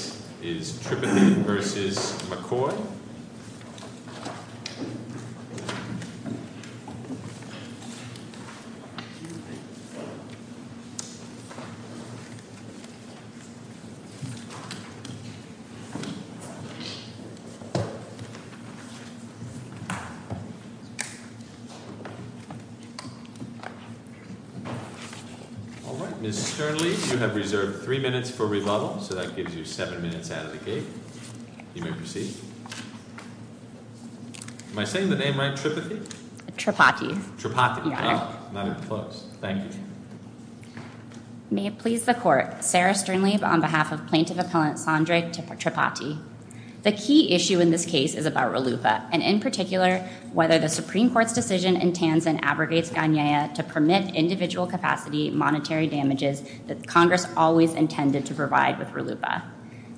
This is Tripathy v. McCoy. All right, Ms. Sternly, you have reserved three minutes for rebuttal, so that gives you seven minutes out of the gate. You may proceed. Am I saying the name right, Tripathy? Tripathy. Tripathy. Your Honor. Not even close. Thank you. May it please the Court, Sarah Sternly on behalf of Plaintiff Appellant Sondra Tripathy. The key issue in this case is about RLUIPA, and in particular, whether the Supreme Court's decision in Tansin abrogates Gagnea to permit individual capacity monetary damages that Congress always intended to provide with RLUIPA.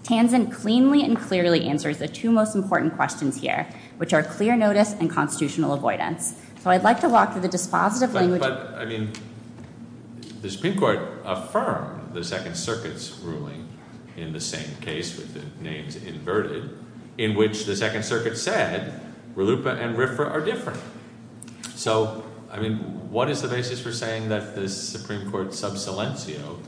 Tansin cleanly and clearly answers the two most important questions here, which are clear notice and constitutional avoidance. So I'd like to walk through the dispositive language. But, I mean, the Supreme Court affirmed the Second Circuit's ruling in the same case, with the names inverted, in which the Second Circuit said RLUIPA and RFRA are different. So, I mean, what is the basis for saying that the Supreme Court sub silencio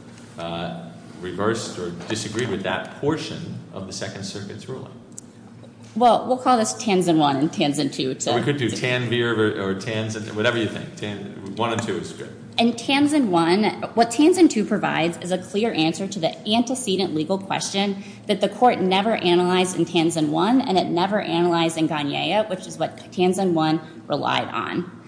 reversed or disagreed with that portion of the Second Circuit's ruling? Well, we'll call this Tansin 1 and Tansin 2. We could do Tanbeer or Tansin, whatever you think. 1 and 2 is good. In Tansin 1, what Tansin 2 provides is a clear answer to the antecedent legal question that the Court never analyzed in Tansin 1, and it never analyzed in Gagnea, which is what Tansin 1 relied on.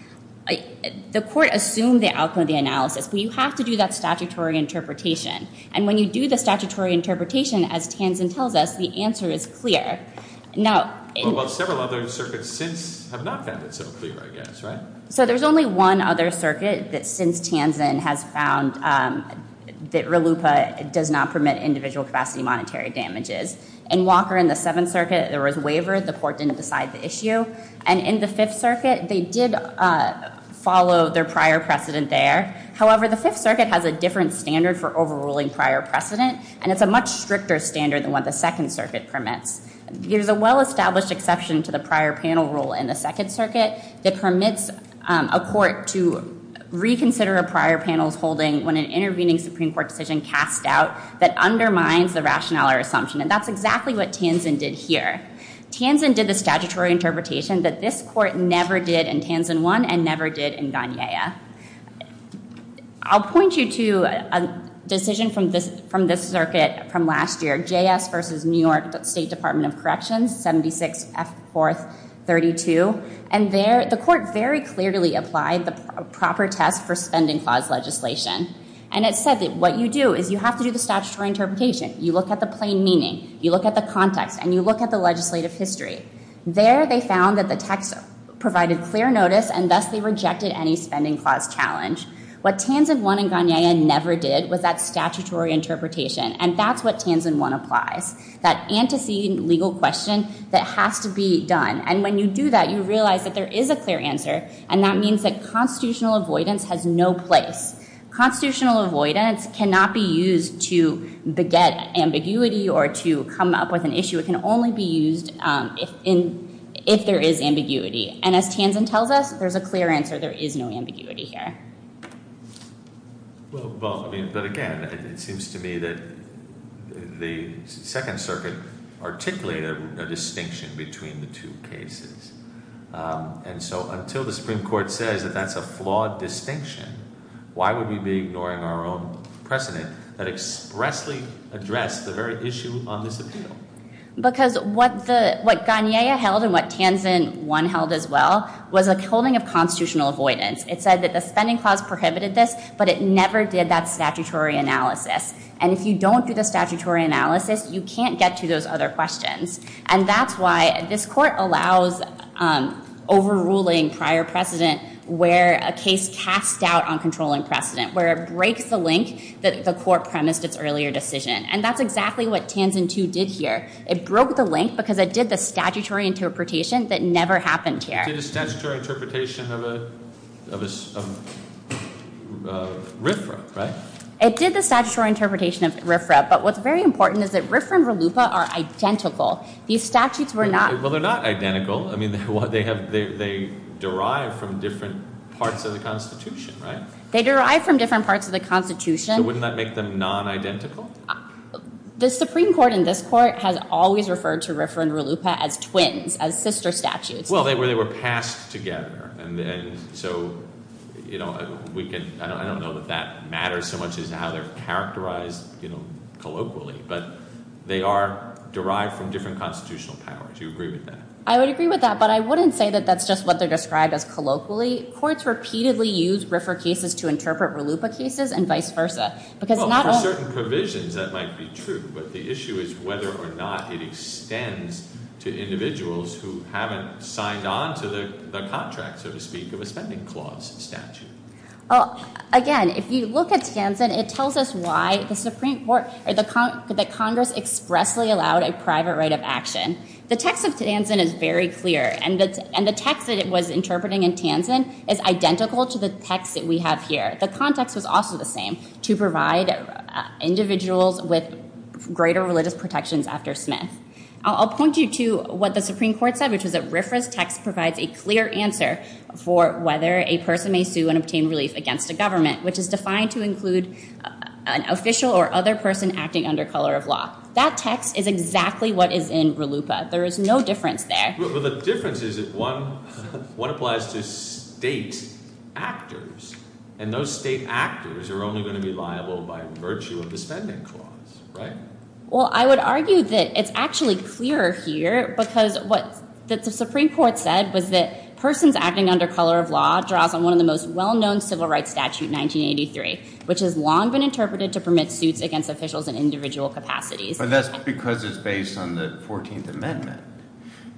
The Court assumed the outcome of the analysis, but you have to do that statutory interpretation. And when you do the statutory interpretation, as Tansin tells us, the answer is clear. Well, several other circuits since have not found it so clear, I guess, right? So there's only one other circuit that since Tansin has found that RLUIPA does not permit individual capacity monetary damages. In Walker and the Seventh Circuit, there was waiver. The Court didn't decide the issue. And in the Fifth Circuit, they did follow their prior precedent there. However, the Fifth Circuit has a different standard for overruling prior precedent, and it's a much stricter standard than what the Second Circuit permits. There's a well-established exception to the prior panel rule in the Second Circuit that permits a court to reconsider a prior panel's holding when an intervening Supreme Court decision casts doubt that undermines the rationale or assumption. And that's exactly what Tansin did here. Tansin did the statutory interpretation that this Court never did in Tansin 1 and never did in Gagnea. I'll point you to a decision from this circuit from last year, JS v. New York State Department of Corrections, 76F432. And the Court very clearly applied the proper test for spending clause legislation. And it said that what you do is you have to do the statutory interpretation. You look at the plain meaning, you look at the context, and you look at the legislative history. There they found that the text provided clear notice, and thus they rejected any spending clause challenge. What Tansin 1 and Gagnea never did was that statutory interpretation, and that's what Tansin 1 applies, that antecedent legal question that has to be done. And when you do that, you realize that there is a clear answer, and that means that constitutional avoidance has no place. Constitutional avoidance cannot be used to beget ambiguity or to come up with an issue. It can only be used if there is ambiguity. And as Tansin tells us, there's a clear answer. There is no ambiguity here. But, again, it seems to me that the Second Circuit articulated a distinction between the two cases. And so until the Supreme Court says that that's a flawed distinction, why would we be ignoring our own precedent that expressly addressed the very issue on this appeal? Because what Gagnea held and what Tansin 1 held as well was a holding of constitutional avoidance. It said that the spending clause prohibited this, but it never did that statutory analysis. And if you don't do the statutory analysis, you can't get to those other questions. And that's why this court allows overruling prior precedent where a case casts doubt on controlling precedent, where it breaks the link that the court premised its earlier decision. And that's exactly what Tansin 2 did here. It broke the link because it did the statutory interpretation that never happened here. It did the statutory interpretation of RFRA, right? It did the statutory interpretation of RFRA. But what's very important is that RFRA and RLUPA are identical. These statutes were not. Well, they're not identical. I mean, they derive from different parts of the Constitution, right? They derive from different parts of the Constitution. So wouldn't that make them non-identical? The Supreme Court in this court has always referred to RFRA and RLUPA as twins, as sister statutes. Well, they were passed together. And so I don't know that that matters so much as how they're characterized colloquially. But they are derived from different constitutional powers. Do you agree with that? I would agree with that. But I wouldn't say that that's just what they're described as colloquially. Courts repeatedly use RFRA cases to interpret RLUPA cases and vice versa. Well, for certain provisions that might be true. But the issue is whether or not it extends to individuals who haven't signed on to the contract, so to speak, of a spending clause statute. Again, if you look at Tansen, it tells us why the Congress expressly allowed a private right of action. The text of Tansen is very clear. And the text that it was interpreting in Tansen is identical to the text that we have here. The context was also the same, to provide individuals with greater religious protections after Smith. I'll point you to what the Supreme Court said, which was that RFRA's text provides a clear answer for whether a person may sue and obtain relief against a government, which is defined to include an official or other person acting under color of law. That text is exactly what is in RLUPA. There is no difference there. Well, the difference is that one applies to state actors. And those state actors are only going to be liable by virtue of the spending clause, right? Well, I would argue that it's actually clearer here because what the Supreme Court said was that persons acting under color of law draws on one of the most well-known civil rights statutes in 1983, which has long been interpreted to permit suits against officials in individual capacities. But that's because it's based on the 14th Amendment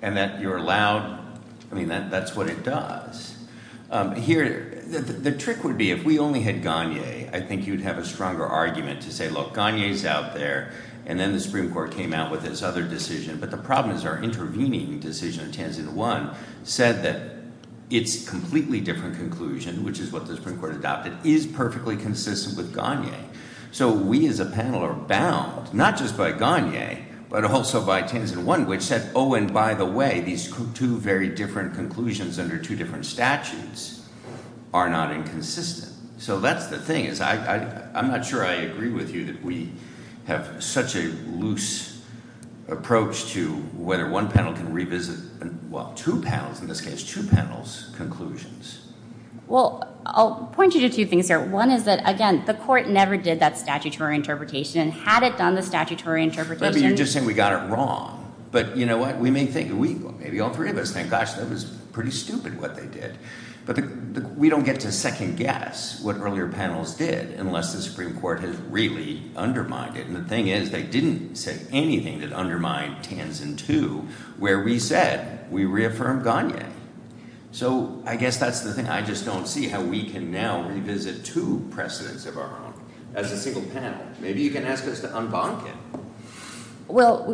and that you're allowed – I mean, that's what it does. Here – the trick would be if we only had Gagné, I think you would have a stronger argument to say, look, Gagné is out there. And then the Supreme Court came out with this other decision. But the problem is our intervening decision, Tansen 1, said that its completely different conclusion, which is what the Supreme Court adopted, is perfectly consistent with Gagné. So we as a panel are bound not just by Gagné but also by Tansen 1, which said, oh, and by the way, these two very different conclusions under two different statutes are not inconsistent. So that's the thing is I'm not sure I agree with you that we have such a loose approach to whether one panel can revisit – well, two panels in this case, two panels' conclusions. Well, I'll point you to two things here. One is that, again, the court never did that statutory interpretation. Had it done the statutory interpretation – Maybe you're just saying we got it wrong. But you know what? We may think – maybe all three of us think, gosh, that was pretty stupid what they did. But we don't get to second guess what earlier panels did unless the Supreme Court has really undermined it. And the thing is they didn't say anything that undermined Tansen 2 where we said we reaffirmed Gagné. So I guess that's the thing. I just don't see how we can now revisit two precedents of our own as a single panel. Maybe you can ask us to unbonk it. Well,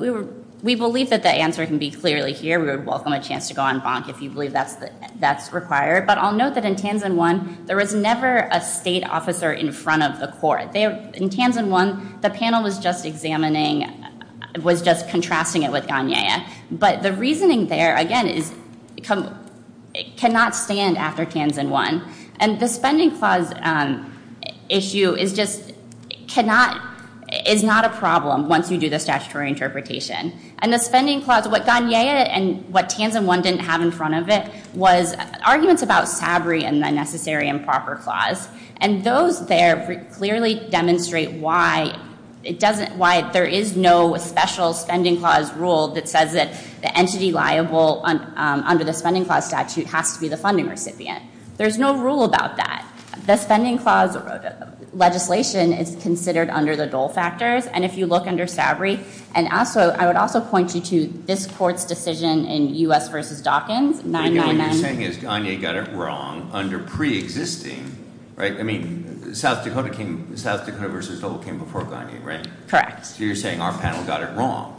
we believe that the answer can be clearly here. We would welcome a chance to go unbonk if you believe that's required. But I'll note that in Tansen 1 there was never a state officer in front of the court. In Tansen 1, the panel was just examining – was just contrasting it with Gagné. But the reasoning there, again, is – cannot stand after Tansen 1. And the spending clause issue is just – cannot – is not a problem once you do the statutory interpretation. And the spending clause – what Gagné and what Tansen 1 didn't have in front of it was arguments about SABRI and the necessary and proper clause. And those there clearly demonstrate why it doesn't – why there is no special spending clause rule that says that the entity liable under the spending clause statute has to be the funding recipient. There's no rule about that. The spending clause legislation is considered under the dole factors. And if you look under SABRI – and also – I would also point you to this court's decision in U.S. v. Dawkins, 999. What you're saying is Gagné got it wrong under pre-existing – right? I mean, South Dakota came – South Dakota v. Dole came before Gagné, right? Correct. So you're saying our panel got it wrong?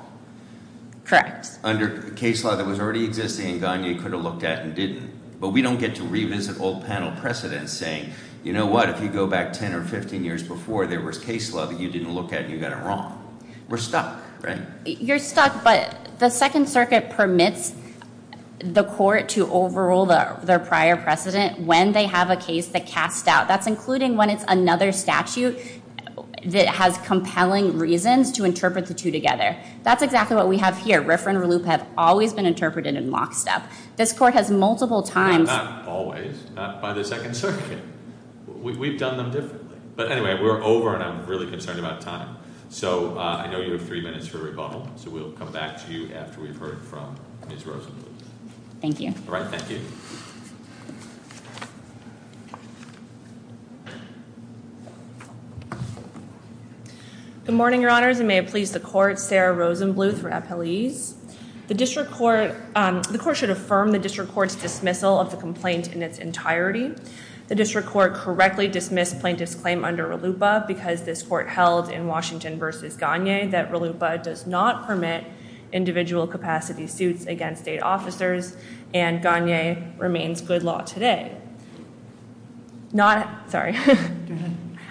Correct. Under case law that was already existing and Gagné could have looked at and didn't. But we don't get to revisit old panel precedents saying, you know what? If you go back 10 or 15 years before, there was case law that you didn't look at and you got it wrong. We're stuck, right? You're stuck, but the Second Circuit permits the court to overrule their prior precedent when they have a case that casts out. That's including when it's another statute that has compelling reasons to interpret the two together. That's exactly what we have here. Riffra and Ralupe have always been interpreted in lockstep. This court has multiple times – Not always. Not by the Second Circuit. We've done them differently. But anyway, we're over and I'm really concerned about time. So I know you have three minutes for rebuttal, so we'll come back to you after we've heard from Ms. Rosenbluth. Thank you. All right, thank you. Good morning, Your Honors, and may it please the court, Sarah Rosenbluth for appellees. The court should affirm the district court's dismissal of the complaint in its entirety. The district court correctly dismissed plaintiff's claim under Ralupe because this court held in Washington v. Gagné that Ralupe does not permit individual capacity suits against state officers and Gagné remains good law today. Not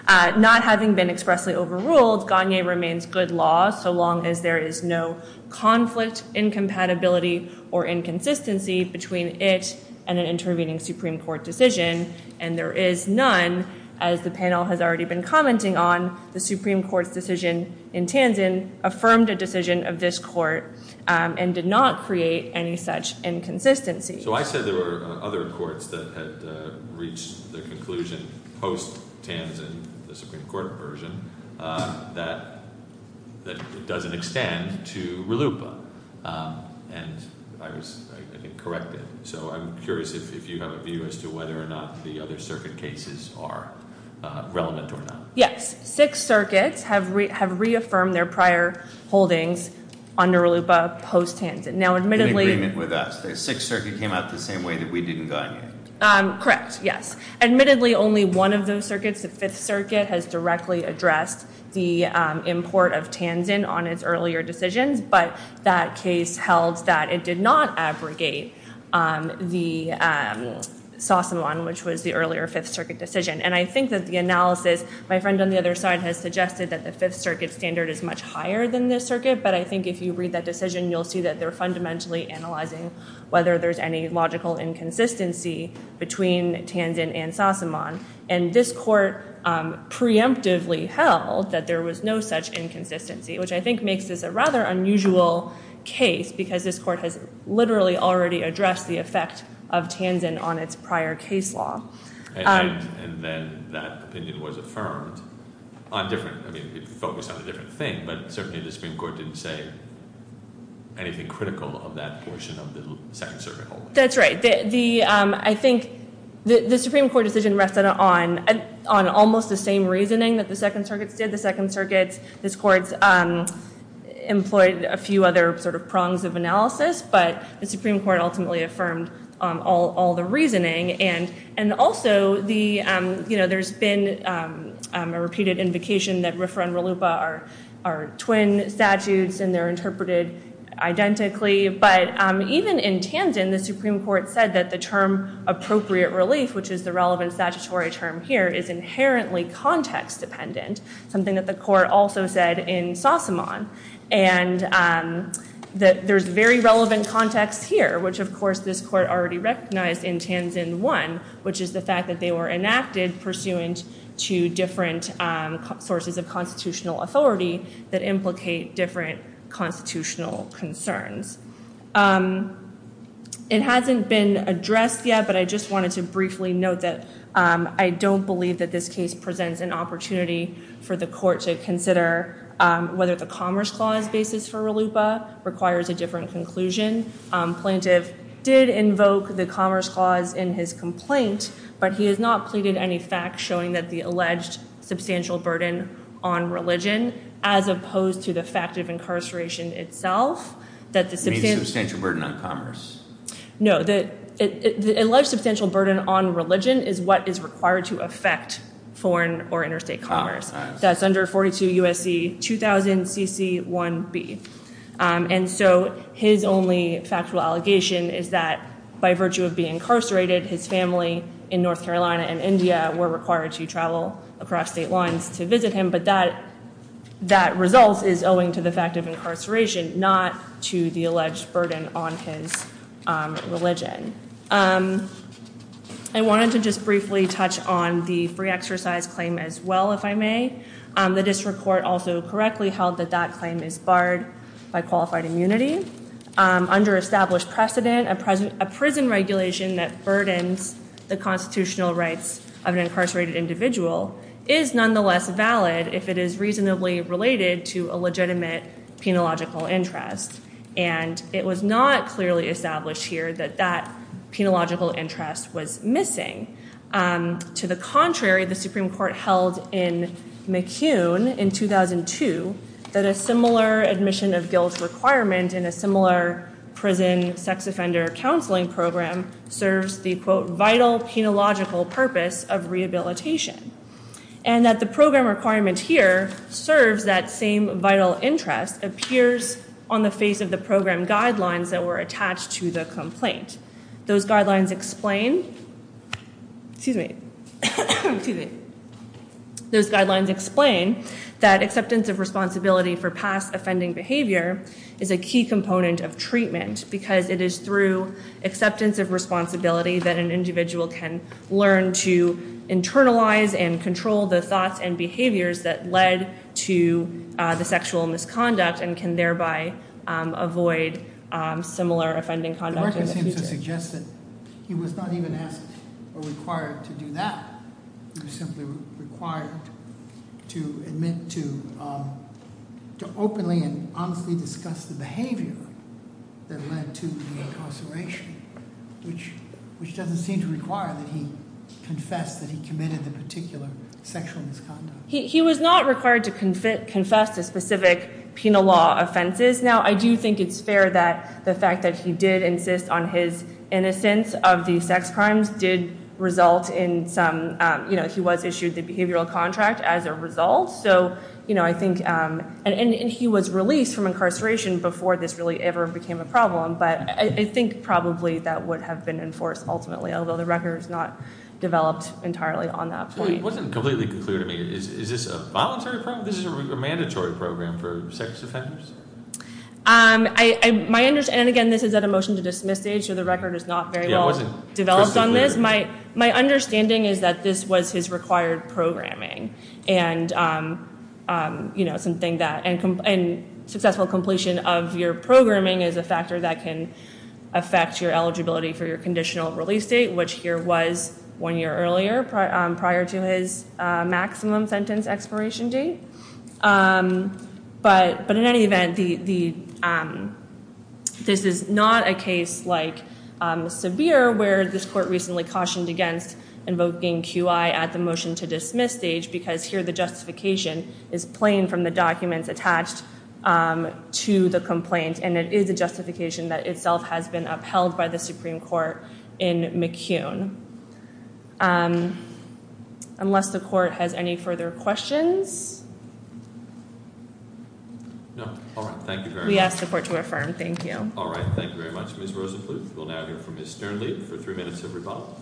having been expressly overruled, Gagné remains good law so long as there is no conflict, incompatibility, or inconsistency between it and an intervening Supreme Court decision. And there is none, as the panel has already been commenting on. The Supreme Court's decision in Tanzan affirmed a decision of this court and did not create any such inconsistency. So I said there were other courts that had reached their conclusion post-Tanzan, the Supreme Court version, that it doesn't extend to Ralupe. And I was, I think, corrected. So I'm curious if you have a view as to whether or not the other circuit cases are relevant or not. Yes, six circuits have reaffirmed their prior holdings under Ralupe post-Tanzan. Now, admittedly- In agreement with us. The sixth circuit came out the same way that we did in Gagné. Correct, yes. Admittedly, only one of those circuits, the fifth circuit, has directly addressed the import of Tanzan on its earlier decisions. But that case held that it did not abrogate the Sassamon, which was the earlier fifth circuit decision. And I think that the analysis, my friend on the other side has suggested that the fifth circuit standard is much higher than this circuit. But I think if you read that decision, you'll see that they're fundamentally analyzing whether there's any logical inconsistency between Tanzan and Sassamon. And this court preemptively held that there was no such inconsistency, which I think makes this a rather unusual case because this court has literally already addressed the effect of Tanzan on its prior case law. And then that opinion was affirmed on different, I mean, it focused on a different thing, but certainly the Supreme Court didn't say anything critical of that portion of the second circuit holding. That's right. I think the Supreme Court decision rested on almost the same reasoning that the second circuits did. The second circuits, this court's employed a few other sort of prongs of analysis, but the Supreme Court ultimately affirmed all the reasoning. And also, there's been a repeated invocation that RFRA and RLUPA are twin statutes and they're interpreted identically. But even in Tanzan, the Supreme Court said that the term appropriate relief, which is the relevant statutory term here, is inherently context dependent, something that the court also said in Sassamon. And that there's very relevant context here, which, of course, this court already recognized in Tanzan I, which is the fact that they were enacted pursuant to different sources of constitutional authority that implicate different constitutional concerns. It hasn't been addressed yet, but I just wanted to briefly note that I don't believe that this case presents an opportunity for the court to consider whether the Commerce Clause basis for RLUPA requires a different conclusion. Plaintiff did invoke the Commerce Clause in his complaint, but he has not pleaded any facts showing that the alleged substantial burden on religion, as opposed to the fact of incarceration itself, that the substantial burden on commerce. No, the alleged substantial burden on religion is what is required to affect foreign or interstate commerce. That's under 42 U.S.C. 2000 CC 1B. And so his only factual allegation is that by virtue of being incarcerated, his family in North Carolina and India were required to travel across state lines to visit him. But that result is owing to the fact of incarceration, not to the alleged burden on his religion. I wanted to just briefly touch on the free exercise claim as well, if I may. The district court also correctly held that that claim is barred by qualified immunity under established precedent. A prison regulation that burdens the constitutional rights of an incarcerated individual is nonetheless valid if it is reasonably related to a legitimate penological interest. And it was not clearly established here that that penological interest was missing. To the contrary, the Supreme Court held in McCune in 2002 that a similar admission of guilt requirement in a similar prison sex offender counseling program serves the, quote, vital penological purpose of rehabilitation. And that the program requirement here serves that same vital interest, appears on the face of the program guidelines that were attached to the complaint. Those guidelines explain that acceptance of responsibility for past offending behavior is a key component of treatment because it is through acceptance of responsibility that an individual can learn to internalize and control the thoughts and behaviors that led to the sexual misconduct and can thereby avoid similar offending conduct in the future. It seems to suggest that he was not even asked or required to do that. He was simply required to admit to openly and honestly discuss the behavior that led to the incarceration, which doesn't seem to require that he confess that he committed the particular sexual misconduct. He was not required to confess to specific penal law offenses. Now, I do think it's fair that the fact that he did insist on his innocence of the sex crimes did result in some, you know, he was issued the behavioral contract as a result. So, you know, I think, and he was released from incarceration before this really ever became a problem. But I think probably that would have been enforced ultimately, although the record is not developed entirely on that point. It wasn't completely clear to me. Is this a voluntary program? This is a mandatory program for sex offenders? And again, this is at a motion to dismiss stage, so the record is not very well developed on this. My understanding is that this was his required programming and, you know, something that, and successful completion of your programming is a factor that can affect your eligibility for your conditional release date, which here was one year earlier prior to his maximum sentence expiration date. But in any event, this is not a case like Severe where this court recently cautioned against invoking QI at the motion to dismiss stage because here the justification is plain from the documents attached to the complaint. And it is a justification that itself has been upheld by the Supreme Court in McCune. Unless the court has any further questions? No. All right. Thank you very much. We ask the court to affirm. Thank you. All right. Thank you very much, Ms. Rosenbluth. We'll now hear from Ms. Sternlieb for three minutes of rebuttal.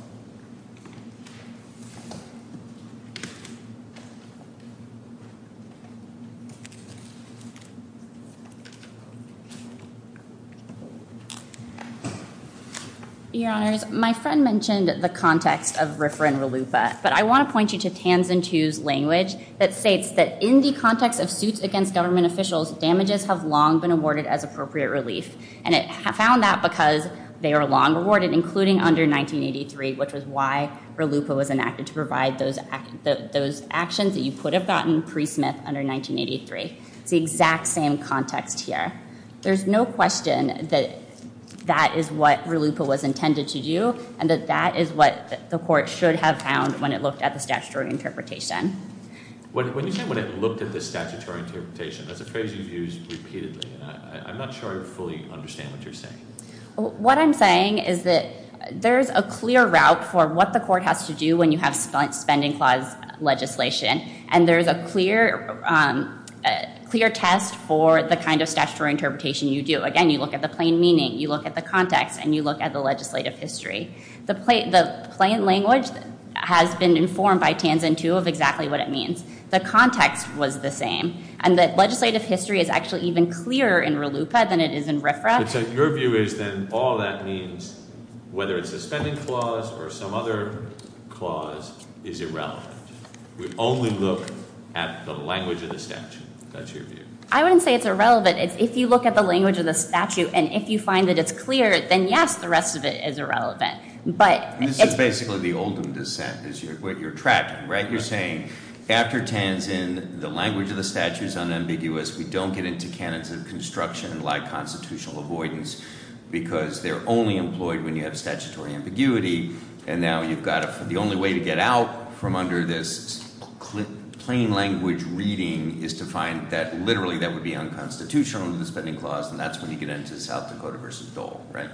Your Honors, my friend mentioned the context of RFRA and RLUFA, but I want to point you to Tanzan II's language that states that in the context of suits against government officials, damages have long been awarded as appropriate relief. And it found that because they are long awarded, including under 1983, which was why RLUFA was enacted to provide those actions that you could have gotten pre-Smith under 1983. It's the exact same context here. There's no question that that is what RLUFA was intended to do and that that is what the court should have found when it looked at the statutory interpretation. When you say when it looked at the statutory interpretation, that's a phrase you've used repeatedly. I'm not sure I fully understand what you're saying. What I'm saying is that there's a clear route for what the court has to do when you have spending clause legislation, and there's a clear test for the kind of statutory interpretation you do. Again, you look at the plain meaning, you look at the context, and you look at the legislative history. The plain language has been informed by Tanzan II of exactly what it means. The context was the same. And the legislative history is actually even clearer in RLUFA than it is in RFRA. So your view is then all that means, whether it's a spending clause or some other clause, is irrelevant. We only look at the language of the statute. That's your view. I wouldn't say it's irrelevant. If you look at the language of the statute and if you find that it's clear, then yes, the rest of it is irrelevant. This is basically the Oldham dissent is what you're tracking, right? After Tanzan, the language of the statute is unambiguous. We don't get into canons of construction like constitutional avoidance because they're only employed when you have statutory ambiguity. And now you've got to – the only way to get out from under this plain language reading is to find that literally that would be unconstitutional under the spending clause, and that's when you get into South Dakota v. Dole, right?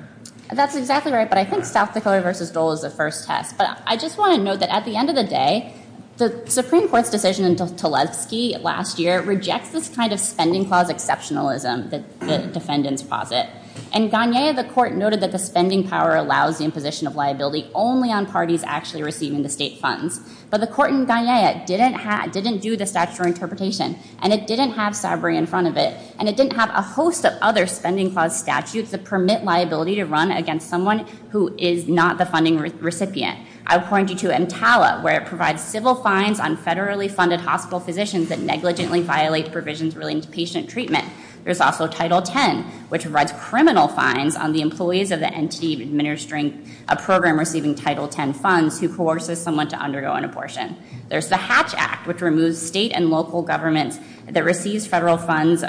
That's exactly right, but I think South Dakota v. Dole is the first test. But I just want to note that at the end of the day, the Supreme Court's decision in Tleilsky last year rejects this kind of spending clause exceptionalism that defendants posit. In Gagnea, the court noted that the spending power allows the imposition of liability only on parties actually receiving the state funds. But the court in Gagnea didn't do the statutory interpretation, and it didn't have Sabri in front of it, and it didn't have a host of other spending clause statutes that permit liability to run against someone who is not the funding recipient. I'll point you to MTALA, where it provides civil fines on federally funded hospital physicians that negligently violate provisions relating to patient treatment. There's also Title X, which provides criminal fines on the employees of the entity administering a program receiving Title X funds who coerces someone to undergo an abortion. There's the Hatch Act, which removes state and local government employees that receive federal funds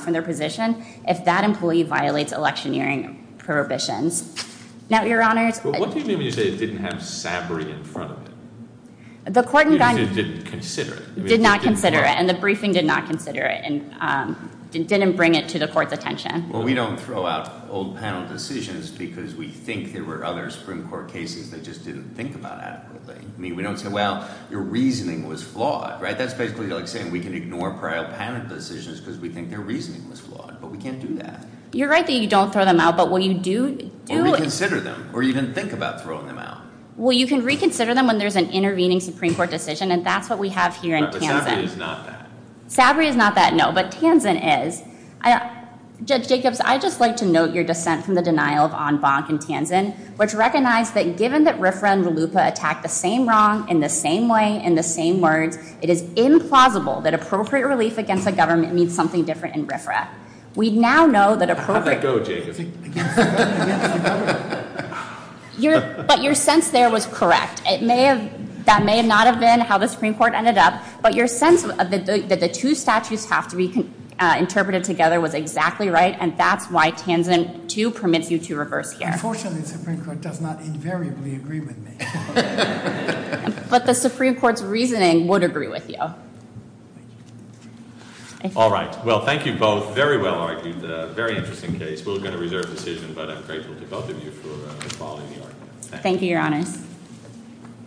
from their position if that employee violates electioneering prohibitions. Now, your honors- Well, what do you mean when you say it didn't have Sabri in front of it? The court in Gagnea- Because it didn't consider it. It did not consider it, and the briefing did not consider it, and didn't bring it to the court's attention. Well, we don't throw out old panel decisions because we think there were other Supreme Court cases they just didn't think about adequately. I mean, we don't say, well, your reasoning was flawed, right? That's basically like saying we can ignore prior panel decisions because we think their reasoning was flawed, but we can't do that. You're right that you don't throw them out, but when you do- Or reconsider them, or you didn't think about throwing them out. Well, you can reconsider them when there's an intervening Supreme Court decision, and that's what we have here in Tansen. But Sabri is not that. Sabri is not that, no, but Tansen is. Judge Jacobs, I'd just like to note your dissent from the denial of Ann Bonk in Tansen, which recognized that given that RFRA and LUPA attacked the same wrong in the same way, in the same words, it is implausible that appropriate relief against a government means something different in RFRA. We now know that appropriate- How'd that go, Jacobs? But your sense there was correct. It may have- That may not have been how the Supreme Court ended up, but your sense that the two statutes have to be interpreted together was exactly right, and that's why Tansen 2 permits you to reverse here. Unfortunately, the Supreme Court does not invariably agree with me. But the Supreme Court's reasoning would agree with you. All right. Well, thank you both. Very well argued. Very interesting case. We were going to reserve the decision, but I'm grateful to both of you for following the argument. Thank you, Your Honors. Thank you.